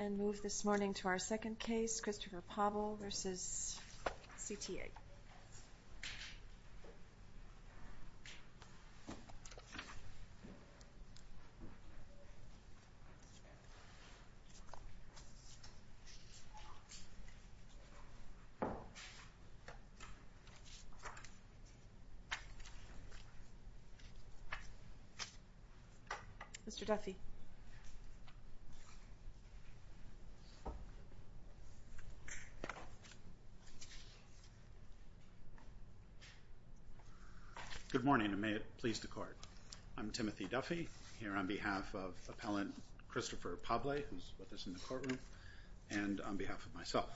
and move this morning to our second case, Christopher Pable v. CTA. Mr. Duffy? Good morning, and may it please the Court. I'm Timothy Duffy, here on behalf of appellant Christopher Pable, who is with us in the courtroom, and on behalf of myself.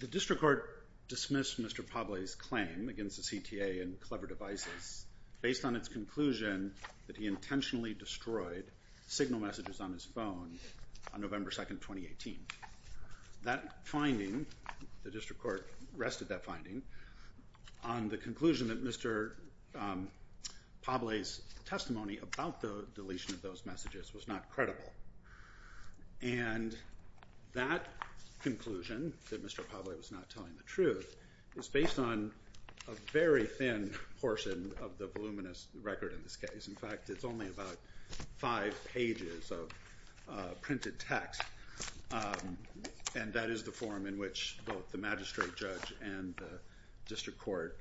The district court dismissed Mr. Pable's claim against the CTA and Clever Devices based on its conclusion that he intentionally destroyed signal messages on his phone on November 2, 2018. That finding, the district court rested that finding on the conclusion that Mr. Pable's testimony about the deletion of those messages was not credible. And that conclusion, that Mr. Pable was not telling the truth, is based on a very thin portion of the voluminous record in this case. In fact, it's only about five pages of printed text, and that is the form in which both the magistrate judge and the district court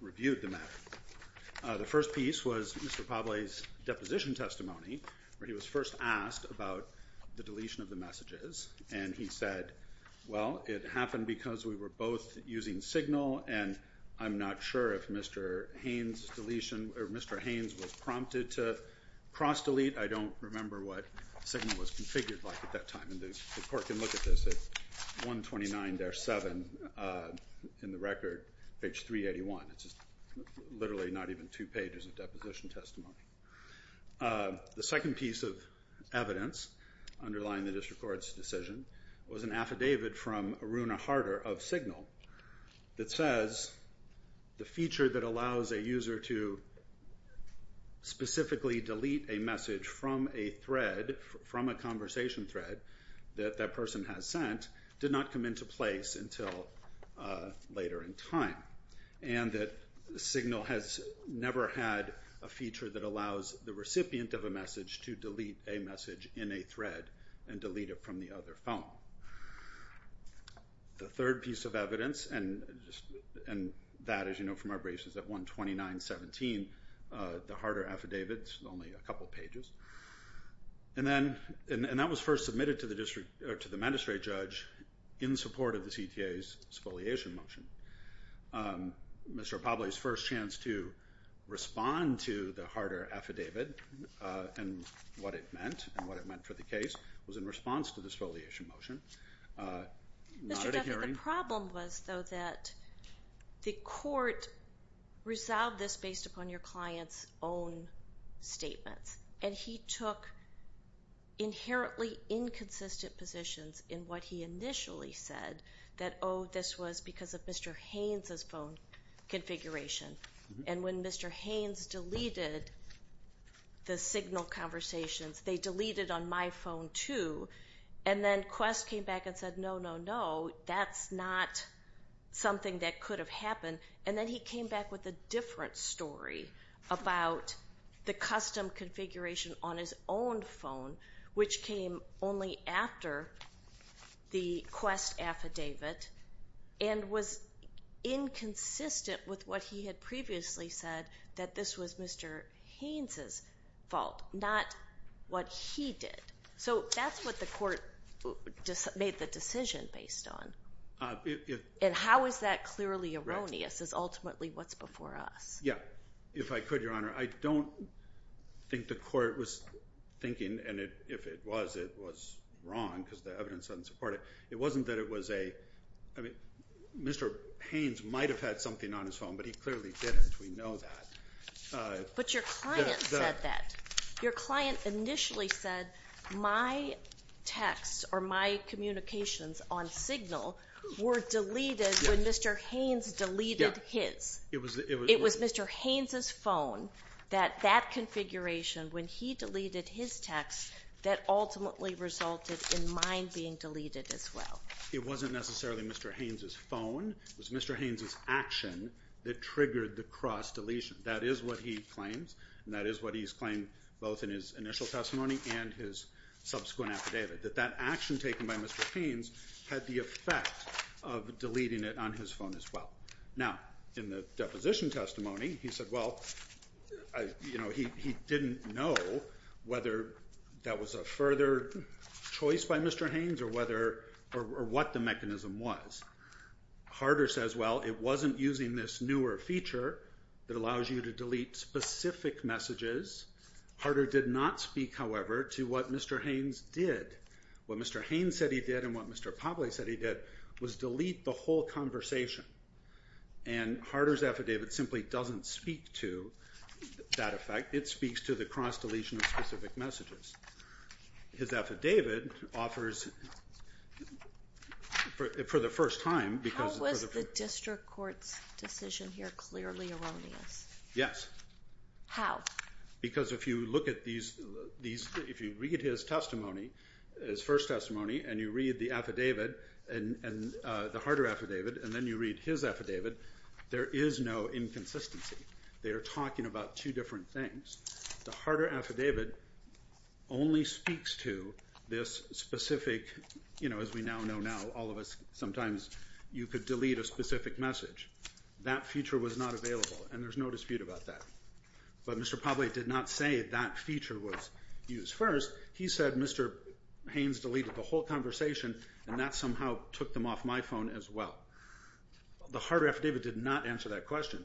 reviewed the matter. The first piece was Mr. Pable's deposition testimony, where he was first asked about the deletion of the messages. And he said, well, it happened because we were both using signal, and I'm not sure if Mr. Haynes was prompted to cross-delete. I don't remember what signal was configured like at that time. And the court can look at this at 129-7 in the record, page 381. It's literally not even two pages of deposition testimony. The second piece of evidence underlying the district court's decision was an affidavit from Aruna Harder of Signal that says the feature that allows a user to specifically delete a message from a thread, from a conversation thread that that person has sent, did not come into place until later in time. And that Signal has never had a feature that allows the recipient of a message to delete a message in a thread and delete it from the other phone. The third piece of evidence, and that, as you know from our briefs, is at 129-17, the Harder affidavit. It's only a couple pages. And that was first submitted to the magistrate judge in support of the CTA's exfoliation motion. Mr. Popley's first chance to respond to the Harder affidavit and what it meant, and what it meant for the case, was in response to the exfoliation motion. Not at a hearing. The problem was, though, that the court resolved this based upon your client's own statements. And he took inherently inconsistent positions in what he initially said, that, oh, this was because of Mr. Haynes' phone configuration. And when Mr. Haynes deleted the Signal conversations, they deleted on my phone, too. And then Quest came back and said, no, no, no, that's not something that could have happened. And then he came back with a different story about the custom configuration on his own phone, which came only after the Quest affidavit, and was inconsistent with what he had previously said, that this was Mr. Haynes' fault, not what he did. So that's what the court made the decision based on. And how is that clearly erroneous is ultimately what's before us. Yeah. If I could, Your Honor, I don't think the court was thinking, and if it was, it was wrong, because the evidence doesn't support it. It wasn't that it was a, I mean, Mr. Haynes might have had something on his phone, but he clearly didn't. We know that. But your client said that. Your client initially said, my texts or my communications on Signal were deleted when Mr. Haynes deleted his. It was Mr. Haynes' phone that that configuration, when he deleted his texts, that ultimately resulted in mine being deleted as well. It wasn't necessarily Mr. Haynes' phone. It was Mr. Haynes' action that triggered the Quest deletion. That is what he claims, and that is what he's claimed both in his initial testimony and his subsequent affidavit, that that action taken by Mr. Haynes had the effect of deleting it on his phone as well. Now, in the deposition testimony, he said, well, you know, he didn't know whether that was a further choice by Mr. Haynes or whether, or what the mechanism was. Harder says, well, it wasn't using this newer feature that allows you to delete specific messages. Harder did not speak, however, to what Mr. Haynes did. What Mr. Haynes said he did and what Mr. Pavley said he did was delete the whole conversation. And Harder's affidavit simply doesn't speak to that effect. It speaks to the cross-deletion of specific messages. His affidavit offers, for the first time, because- How was the district court's decision here clearly erroneous? Yes. How? Because if you look at these, if you read his testimony, his first testimony, and you read the affidavit, the Harder affidavit, and then you read his affidavit, there is no inconsistency. They are talking about two different things. The Harder affidavit only speaks to this specific, you know, as we now know now, all of us, sometimes you could delete a specific message. That feature was not available, and there's no dispute about that. But Mr. Pavley did not say that feature was used first. He said Mr. Haynes deleted the whole conversation, and that somehow took them off my phone as well. The Harder affidavit did not answer that question.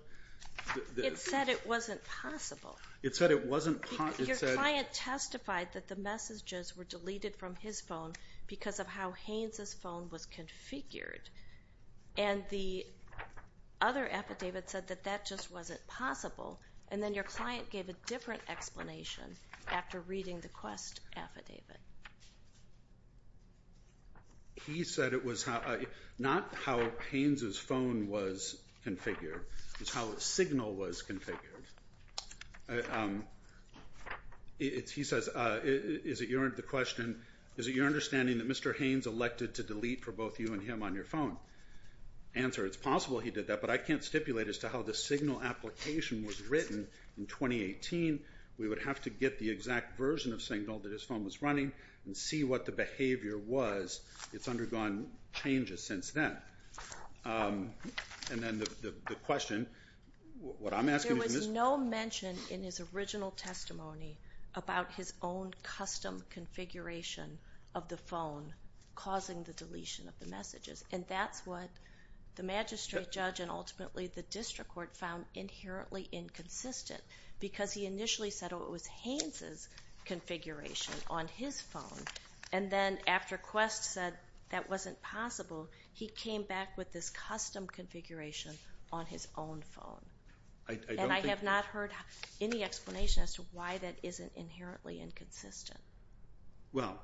It said it wasn't possible. It said it wasn't possible. Your client testified that the messages were deleted from his phone because of how Haynes' phone was configured, and the other affidavit said that that just wasn't possible, and then your client gave a different explanation after reading the Quest affidavit. He said it was not how Haynes' phone was configured. It was how his signal was configured. He says, is it your understanding that Mr. Haynes elected to delete for both you and him on your phone? Answer, it's possible he did that, but I can't stipulate as to how the signal application was written in 2018. We would have to get the exact version of signal that his phone was running and see what the behavior was. It's undergone changes since then. And then the question, what I'm asking is Mr. There was no mention in his original testimony about his own custom configuration of the phone causing the deletion of the messages, and that's what the magistrate judge and ultimately the district court found inherently inconsistent because he initially said it was Haynes' configuration on his phone, and then after Quest said that wasn't possible, he came back with this custom configuration on his own phone. And I have not heard any explanation as to why that isn't inherently inconsistent. Well,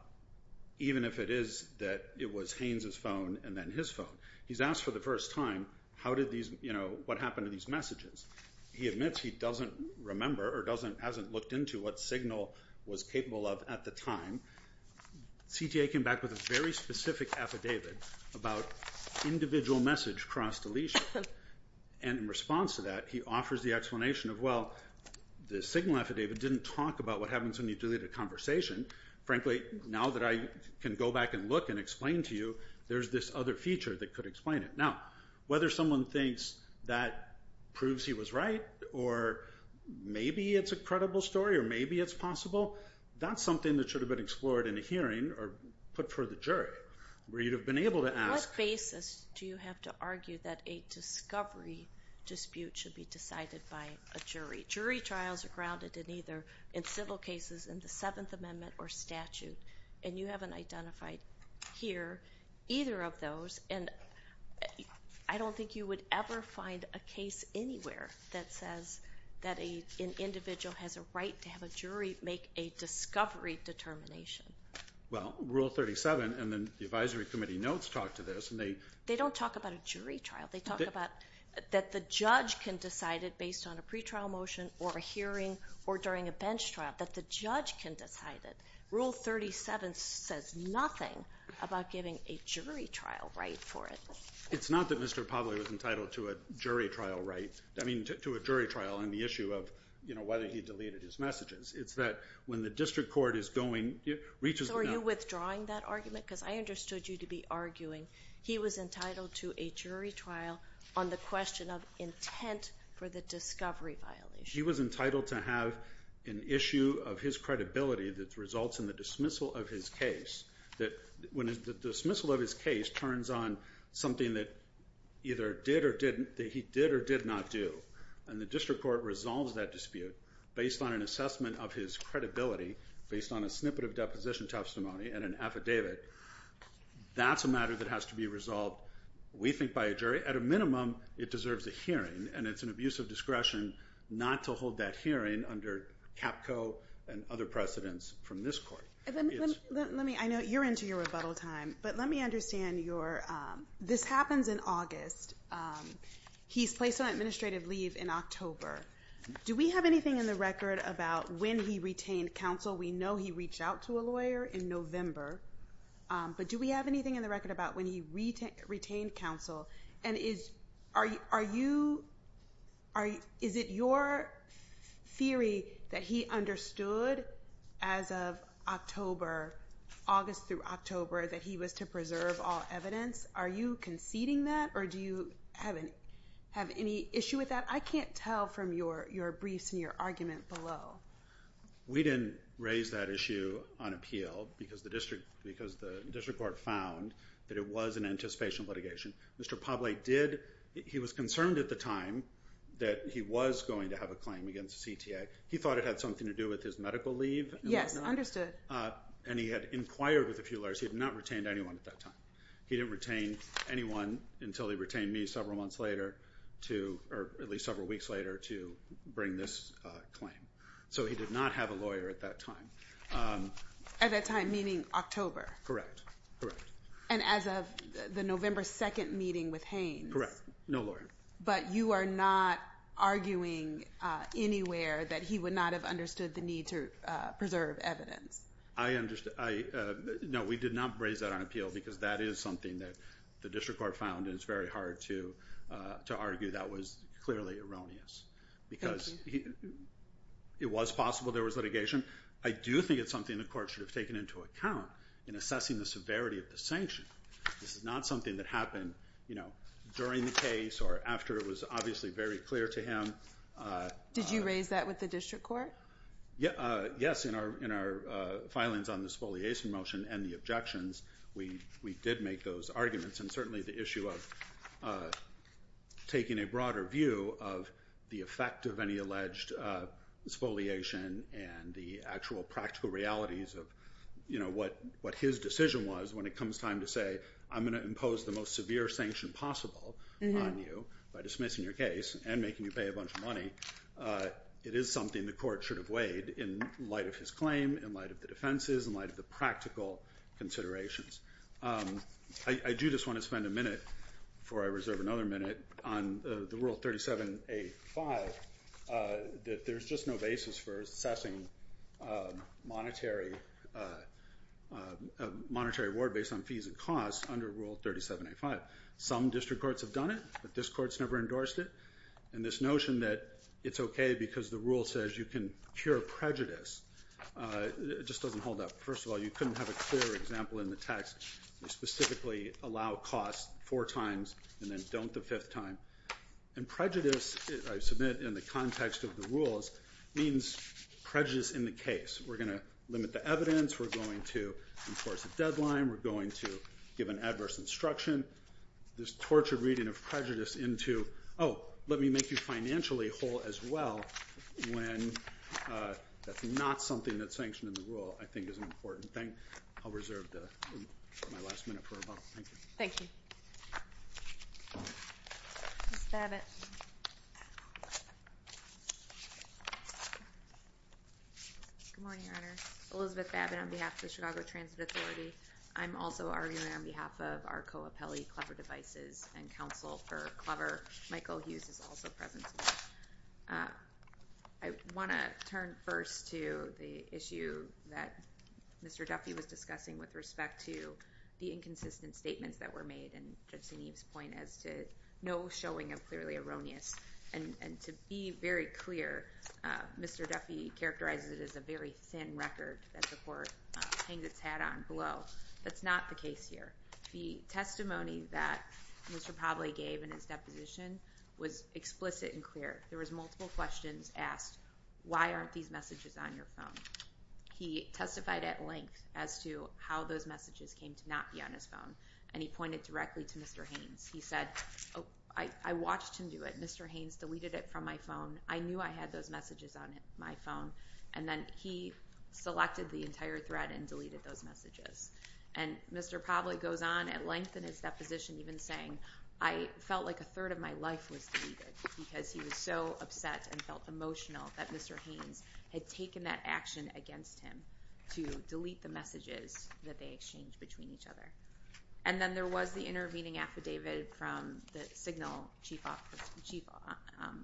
even if it is that it was Haynes' phone and then his phone, he's asked for the first time what happened to these messages. He admits he doesn't remember or hasn't looked into what signal was capable of at the time. CTA came back with a very specific affidavit about individual message cross deletion, and in response to that he offers the explanation of, well, the signal affidavit didn't talk about what happens when you delete a conversation. Frankly, now that I can go back and look and explain to you, there's this other feature that could explain it. Now, whether someone thinks that proves he was right or maybe it's a credible story or maybe it's possible, that's something that should have been explored in a hearing or put for the jury where you'd have been able to ask. What basis do you have to argue that a discovery dispute should be decided by a jury? Jury trials are grounded in either in civil cases in the Seventh Amendment or statute, and you haven't identified here either of those, and I don't think you would ever find a case anywhere that says that an individual has a right to have a jury make a discovery determination. Well, Rule 37 and the advisory committee notes talk to this. They don't talk about a jury trial. They talk about that the judge can decide it based on a pretrial motion or a hearing or during a bench trial, that the judge can decide it. Rule 37 says nothing about giving a jury trial right for it. It's not that Mr. Pavley was entitled to a jury trial right. I mean, to a jury trial on the issue of, you know, whether he deleted his messages. It's that when the district court is going, reaches the… So are you withdrawing that argument? Because I understood you to be arguing he was entitled to a jury trial on the question of intent for the discovery violation. He was entitled to have an issue of his credibility that results in the dismissal of his case, that when the dismissal of his case turns on something that either did or didn't, that he did or did not do, and the district court resolves that dispute based on an assessment of his credibility, based on a snippet of deposition testimony and an affidavit, that's a matter that has to be resolved, we think, by a jury. At a minimum, it deserves a hearing. And it's an abuse of discretion not to hold that hearing under CAPCO and other precedents from this court. Let me, I know you're into your rebuttal time, but let me understand your… This happens in August. He's placed on administrative leave in October. Do we have anything in the record about when he retained counsel? We know he reached out to a lawyer in November. But do we have anything in the record about when he retained counsel? And is, are you, is it your theory that he understood as of October, August through October, that he was to preserve all evidence? Are you conceding that, or do you have any issue with that? I can't tell from your briefs and your argument below. We didn't raise that issue on appeal because the district court found that it was an anticipation litigation. Mr. Pavley did, he was concerned at the time that he was going to have a claim against the CTA. He thought it had something to do with his medical leave and whatnot. Yes, understood. And he had inquired with a few lawyers. He had not retained anyone at that time. He didn't retain anyone until he retained me several months later to, or at least several weeks later, to bring this claim. So he did not have a lawyer at that time. At that time, meaning October. Correct, correct. And as of the November 2nd meeting with Haynes. Correct, no lawyer. But you are not arguing anywhere that he would not have understood the need to preserve evidence. I understand. No, we did not raise that on appeal because that is something that the district court found. And it's very hard to, to argue that was clearly erroneous because it was possible there was litigation. I do think it's something the court should have taken into account in assessing the severity of the sanction. This is not something that happened during the case or after it was obviously very clear to him. Did you raise that with the district court? Yes, in our filings on the spoliation motion and the objections, we did make those arguments. And certainly the issue of taking a broader view of the effect of any alleged spoliation and the actual practical realities of what his decision was when it comes time to say, I'm going to impose the most severe sanction possible on you by dismissing your case and making you pay a bunch of money. It is something the court should have weighed in light of his claim, in light of the defenses, in light of the practical considerations. I do just want to spend a minute, before I reserve another minute, on the Rule 37A-5. There's just no basis for assessing monetary reward based on fees and costs under Rule 37A-5. Some district courts have done it, but this court's never endorsed it. And this notion that it's okay because the rule says you can cure prejudice just doesn't hold up. First of all, you couldn't have a clear example in the text specifically allow costs four times and then don't the fifth time. And prejudice, I submit, in the context of the rules, means prejudice in the case. We're going to limit the evidence. We're going to enforce a deadline. We're going to give an adverse instruction. We're going to limit this tortured reading of prejudice into, oh, let me make you financially whole as well, when that's not something that's sanctioned in the rule, I think is an important thing. I'll reserve my last minute for a moment. Thank you. Ms. Babbitt. Good morning, Your Honor. Elizabeth Babbitt on behalf of the Chicago Transit Authority. I'm also arguing on behalf of our co-appellee, Clever Devices and Counsel for Clever. Michael Hughes is also present today. I want to turn first to the issue that Mr. Duffy was discussing with respect to the inconsistent statements that were made and Judge Senev's point as to no showing of clearly erroneous. And to be very clear, Mr. Duffy characterizes it as a very thin record that the court hangs its hat on below. That's not the case here. The testimony that Mr. Pavley gave in his deposition was explicit and clear. There was multiple questions asked, why aren't these messages on your phone? He testified at length as to how those messages came to not be on his phone, and he pointed directly to Mr. Haynes. He said, I watched him do it. Mr. Haynes deleted it from my phone. I knew I had those messages on my phone. And then he selected the entire thread and deleted those messages. And Mr. Pavley goes on at length in his deposition even saying, I felt like a third of my life was deleted because he was so upset and felt emotional that Mr. Haynes had taken that action against him to delete the messages that they exchanged between each other. And then there was the intervening affidavit from the Signal chief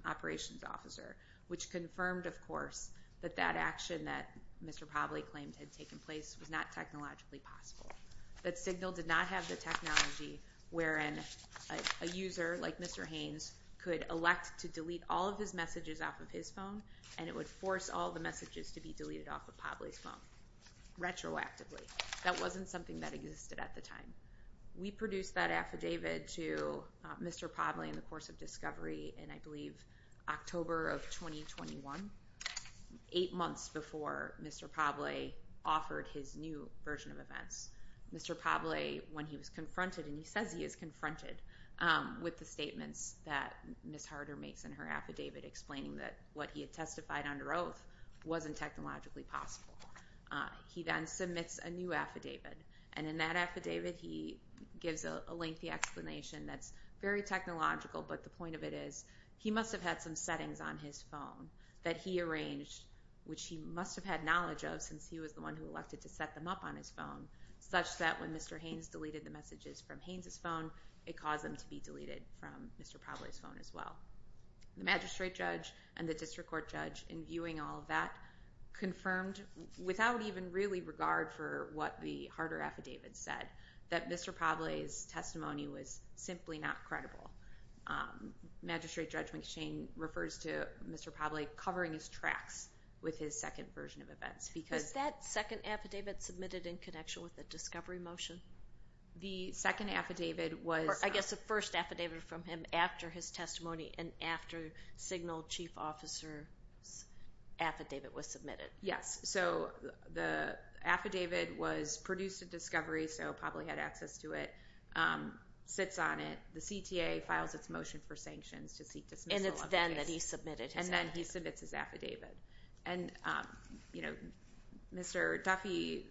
operations officer, which confirmed, of course, that that action that Mr. Pavley claimed had taken place was not technologically possible. That Signal did not have the technology wherein a user like Mr. Haynes could elect to delete all of his messages off of his phone, and it would force all the messages to be deleted off of Pavley's phone retroactively. That wasn't something that existed at the time. We produced that affidavit to Mr. Pavley in the course of discovery in, I believe, October of 2021, eight months before Mr. Pavley offered his new version of events. Mr. Pavley, when he was confronted, and he says he is confronted with the statements that Ms. Harder makes in her affidavit explaining that what he had testified under oath wasn't technologically possible. He then submits a new affidavit, and in that affidavit he gives a lengthy explanation that's very technological, but the point of it is he must have had some settings on his phone that he arranged, which he must have had knowledge of since he was the one who elected to set them up on his phone, such that when Mr. Haynes deleted the messages from Haynes' phone, it caused them to be deleted from Mr. Pavley's phone as well. The magistrate judge and the district court judge, in viewing all of that, confirmed, without even really regard for what the Harder affidavit said, that Mr. Pavley's testimony was simply not credible. Magistrate Judge McShane refers to Mr. Pavley covering his tracks with his second version of events because— Was that second affidavit submitted in connection with the discovery motion? The second affidavit was— I guess the first affidavit from him after his testimony and after signal chief officer's affidavit was submitted. Yes. So the affidavit was produced at discovery, so Pavley had access to it, sits on it, the CTA files its motion for sanctions to seek dismissal of the case— And it's then that he submitted his affidavit. And, you know, Mr. Duffy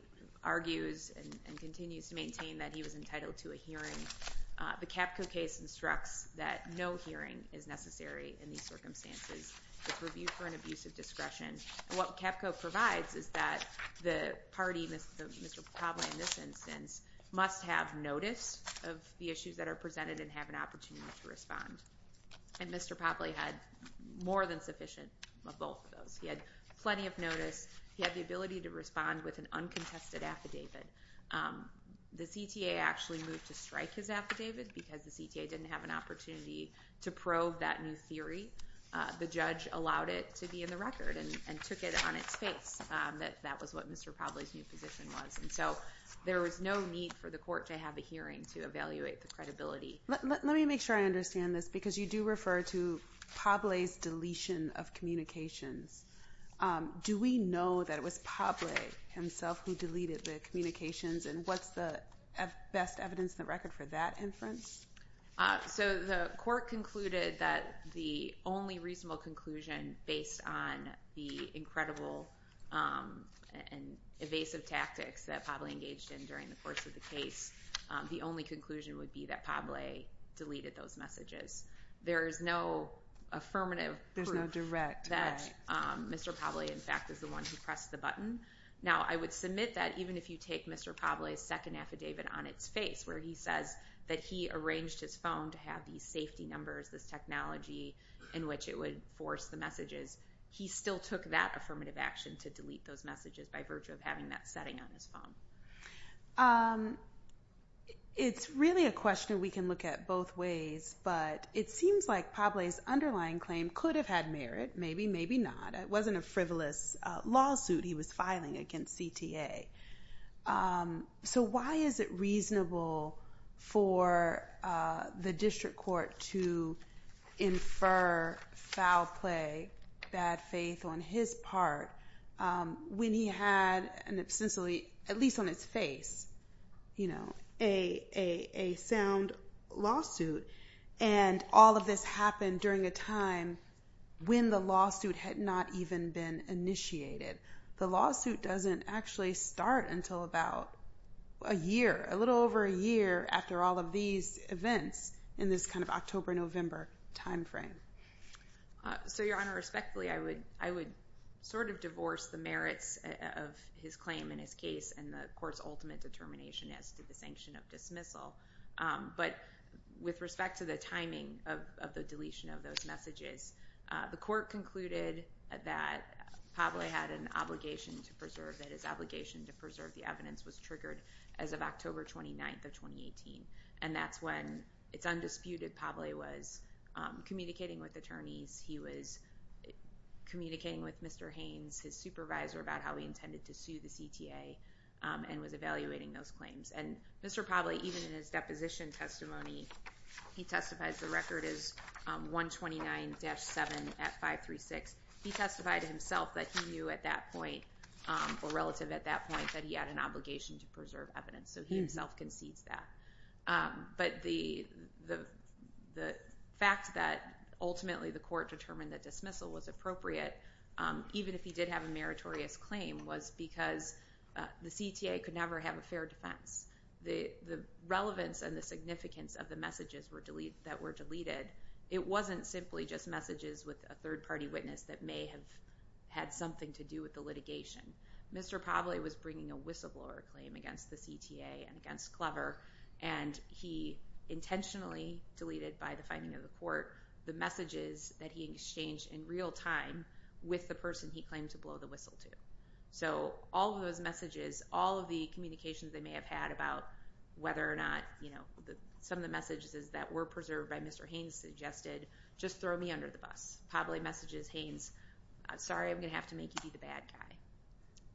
argues and continues to maintain that he was entitled to a hearing. The CAPCO case instructs that no hearing is necessary in these circumstances. It's reviewed for an abuse of discretion. And what CAPCO provides is that the party, Mr. Pavley in this instance, must have notice of the issues that are presented and have an opportunity to respond. And Mr. Pavley had more than sufficient of both of those. He had plenty of notice. He had the ability to respond with an uncontested affidavit. The CTA actually moved to strike his affidavit because the CTA didn't have an opportunity to probe that new theory. The judge allowed it to be in the record and took it on its face that that was what Mr. Pavley's new position was. And so there was no need for the court to have a hearing to evaluate the credibility. Let me make sure I understand this because you do refer to Pavley's deletion of communications. Do we know that it was Pavley himself who deleted the communications? And what's the best evidence in the record for that inference? So the court concluded that the only reasonable conclusion based on the incredible and evasive tactics that Pavley engaged in during the course of the case, the only conclusion would be that Pavley deleted those messages. There is no affirmative proof that Mr. Pavley, in fact, is the one who pressed the button. Now, I would submit that even if you take Mr. Pavley's second affidavit on its face, where he says that he arranged his phone to have these safety numbers, this technology in which it would force the messages, he still took that affirmative action to delete those messages by virtue of having that setting on his phone. It's really a question we can look at both ways. But it seems like Pavley's underlying claim could have had merit. Maybe, maybe not. It wasn't a frivolous lawsuit he was filing against CTA. So why is it reasonable for the district court to infer foul play, bad faith on his part, when he had, at least on its face, a sound lawsuit? And all of this happened during a time when the lawsuit had not even been initiated. The lawsuit doesn't actually start until about a year, a little over a year after all of these events in this kind of October-November time frame. So, Your Honor, respectfully, I would sort of divorce the merits of his claim in his case and the court's ultimate determination as to the sanction of dismissal. But with respect to the timing of the deletion of those messages, the court concluded that Pavley had an obligation to preserve, that his obligation to preserve the evidence was triggered as of October 29th of 2018. And that's when, it's undisputed, Pavley was communicating with attorneys. He was communicating with Mr. Haynes, his supervisor, about how he intended to sue the CTA and was evaluating those claims. And Mr. Pavley, even in his deposition testimony, he testifies the record is 129-7 at 536. He testified himself that he knew at that point, or relative at that point, that he had an obligation to preserve evidence. So he himself concedes that. But the fact that ultimately the court determined that dismissal was appropriate, even if he did have a meritorious claim, was because the CTA could never have a fair defense. The relevance and the significance of the messages that were deleted, it wasn't simply just messages with a third-party witness that may have had something to do with the litigation. Mr. Pavley was bringing a whistleblower claim against the CTA and against Clever, and he intentionally deleted, by the finding of the court, the messages that he exchanged in real time with the person he claimed to blow the whistle to. So all of those messages, all of the communications they may have had about whether or not, you know, some of the messages that were preserved by Mr. Haynes suggested, just throw me under the bus. Pavley messages Haynes, sorry, I'm going to have to make you be the bad guy.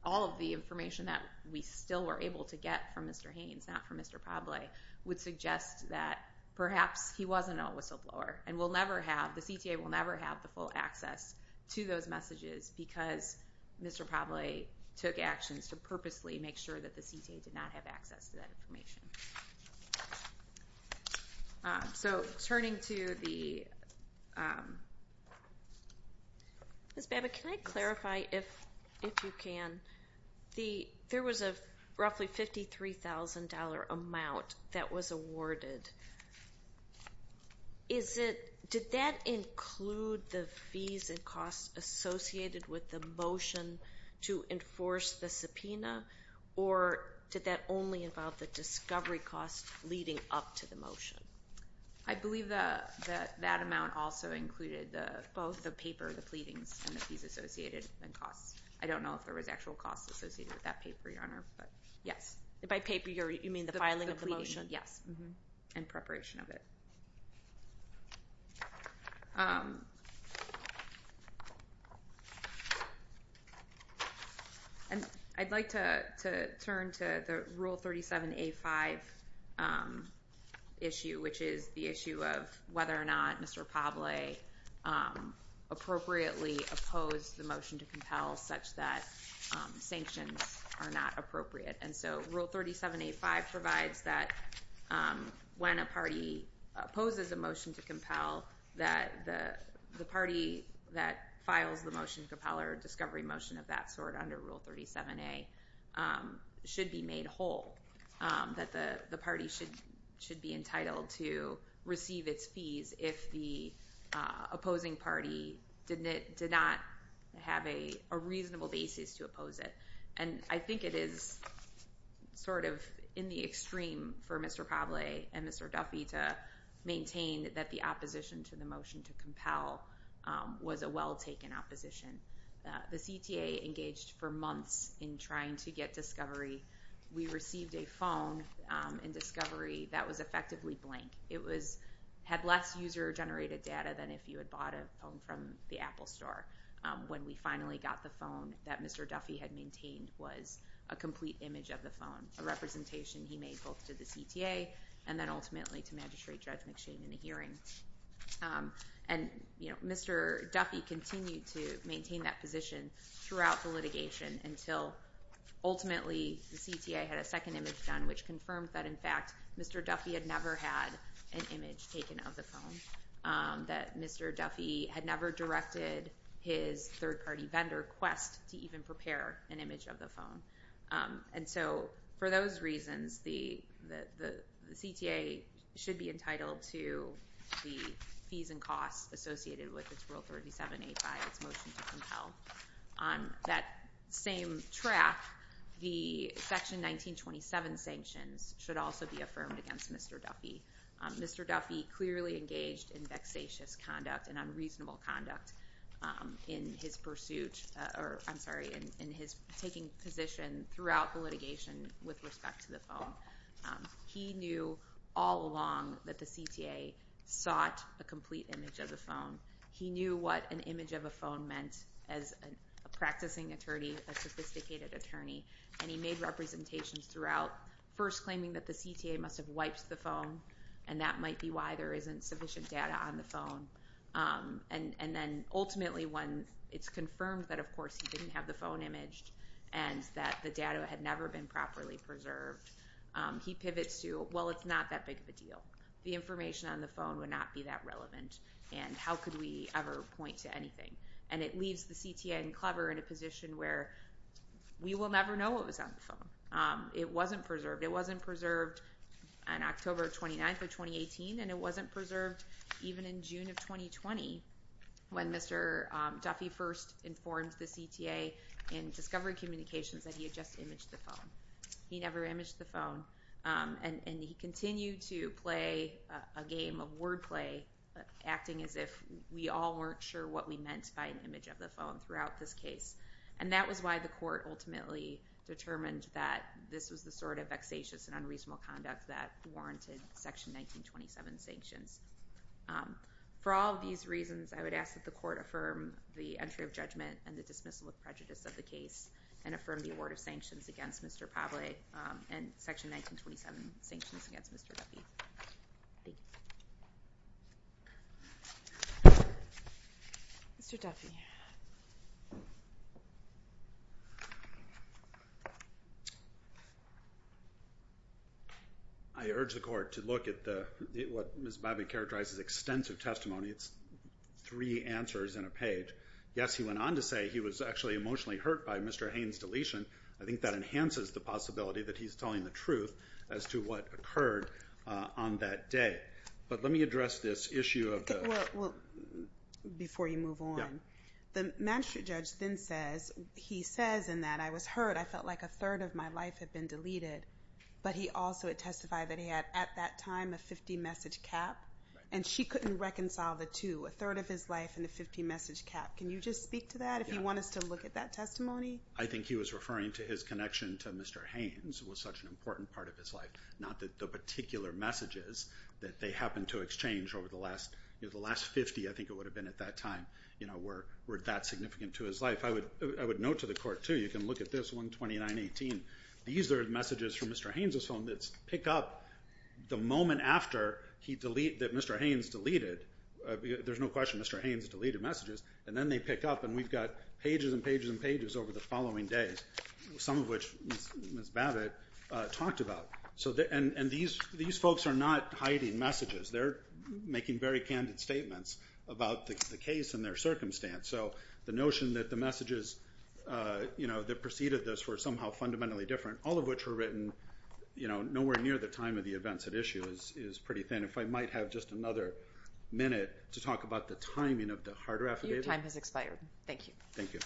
All of the information that we still were able to get from Mr. Haynes, not from Mr. Pavley, would suggest that perhaps he wasn't a whistleblower. And we'll never have, the CTA will never have the full access to those messages because Mr. Pavley took actions to purposely make sure that the CTA did not have access to that information. So turning to the, Ms. Babbitt, can I clarify, if you can, there was a roughly $53,000 amount that was awarded. Is it, did that include the fees and costs associated with the motion to enforce the subpoena, or did that only involve the discovery costs leading up to the motion? I believe that that amount also included both the paper, the pleadings, and the fees associated and costs. I don't know if there was actual costs associated with that paper, Your Honor, but yes. By paper, you mean the filing of the motion? Yes, and preparation of it. And I'd like to turn to the Rule 37A5 issue, which is the issue of whether or not Mr. Pavley appropriately opposed the motion to compel such that sanctions are not appropriate. And so Rule 37A5 provides that when a party opposes a motion to compel, that the party that files the motion to compel or discovery motion of that sort under Rule 37A should be made whole, that the party should be entitled to receive its fees if the opposing party did not have a reasonable basis to oppose it. And I think it is sort of in the extreme for Mr. Pavley and Mr. Duffy to maintain that the opposition to the motion to compel was a well-taken opposition. The CTA engaged for months in trying to get discovery. We received a phone in discovery that was effectively blank. It had less user-generated data than if you had bought a phone from the Apple store. When we finally got the phone that Mr. Duffy had maintained was a complete image of the phone, a representation he made both to the CTA and then ultimately to Magistrate Judge McShane in a hearing. And Mr. Duffy continued to maintain that position throughout the litigation until ultimately the CTA had a second image done, which confirmed that, in fact, Mr. Duffy had never had an image taken of the phone, that Mr. Duffy had never directed his third-party vendor, Quest, to even prepare an image of the phone. And so for those reasons, the CTA should be entitled to the fees and costs associated with its Rule 37A5, its motion to compel. On that same track, the Section 1927 sanctions should also be affirmed against Mr. Duffy. Mr. Duffy clearly engaged in vexatious conduct and unreasonable conduct in his pursuit or, I'm sorry, in his taking position throughout the litigation with respect to the phone. He knew all along that the CTA sought a complete image of the phone. He knew what an image of a phone meant as a practicing attorney, a sophisticated attorney, and he made representations throughout, first claiming that the CTA must have wiped the phone and that might be why there isn't sufficient data on the phone. And then ultimately when it's confirmed that, of course, he didn't have the phone imaged and that the data had never been properly preserved, he pivots to, well, it's not that big of a deal. The information on the phone would not be that relevant, and how could we ever point to anything? And it leaves the CTA and Clever in a position where we will never know what was on the phone. It wasn't preserved. It wasn't preserved on October 29th of 2018, and it wasn't preserved even in June of 2020 when Mr. Duffy first informed the CTA in Discovery Communications that he had just imaged the phone. He never imaged the phone, and he continued to play a game of wordplay, acting as if we all weren't sure what we meant by an image of the phone throughout this case. And that was why the court ultimately determined that this was the sort of vexatious and unreasonable conduct that warranted Section 1927 sanctions. For all of these reasons, I would ask that the court affirm the entry of judgment and the dismissal of prejudice of the case and affirm the award of sanctions against Mr. Pavley and Section 1927 sanctions against Mr. Duffy. Mr. Duffy. I urge the court to look at what Ms. Babbitt characterized as extensive testimony. It's three answers in a page. Yes, he went on to say he was actually emotionally hurt by Mr. Haynes' deletion. I think that enhances the possibility that he's telling the truth as to what occurred on that day. But let me address this issue of the— Well, before you move on, the magistrate judge then says, he says in that, I was hurt. I felt like a third of my life had been deleted. But he also had testified that he had at that time a 50-message cap, and she couldn't reconcile the two, a third of his life and a 50-message cap. Can you just speak to that if you want us to look at that testimony? I think he was referring to his connection to Mr. Haynes was such an important part of his life, not the particular messages that they happened to exchange over the last 50, I think it would have been at that time, were that significant to his life. I would note to the court, too, you can look at this one, 2918. These are messages from Mr. Haynes' phone that pick up the moment after he deleted, that Mr. Haynes deleted, there's no question Mr. Haynes deleted messages, and then they pick up and we've got pages and pages and pages over the following days, some of which Ms. Babbitt talked about. And these folks are not hiding messages. They're making very candid statements about the case and their circumstance. So the notion that the messages that preceded this were somehow fundamentally different, all of which were written nowhere near the time of the events at issue is pretty thin. And if I might have just another minute to talk about the timing of the harder affidavit. Your time has expired. Thank you. Thank you.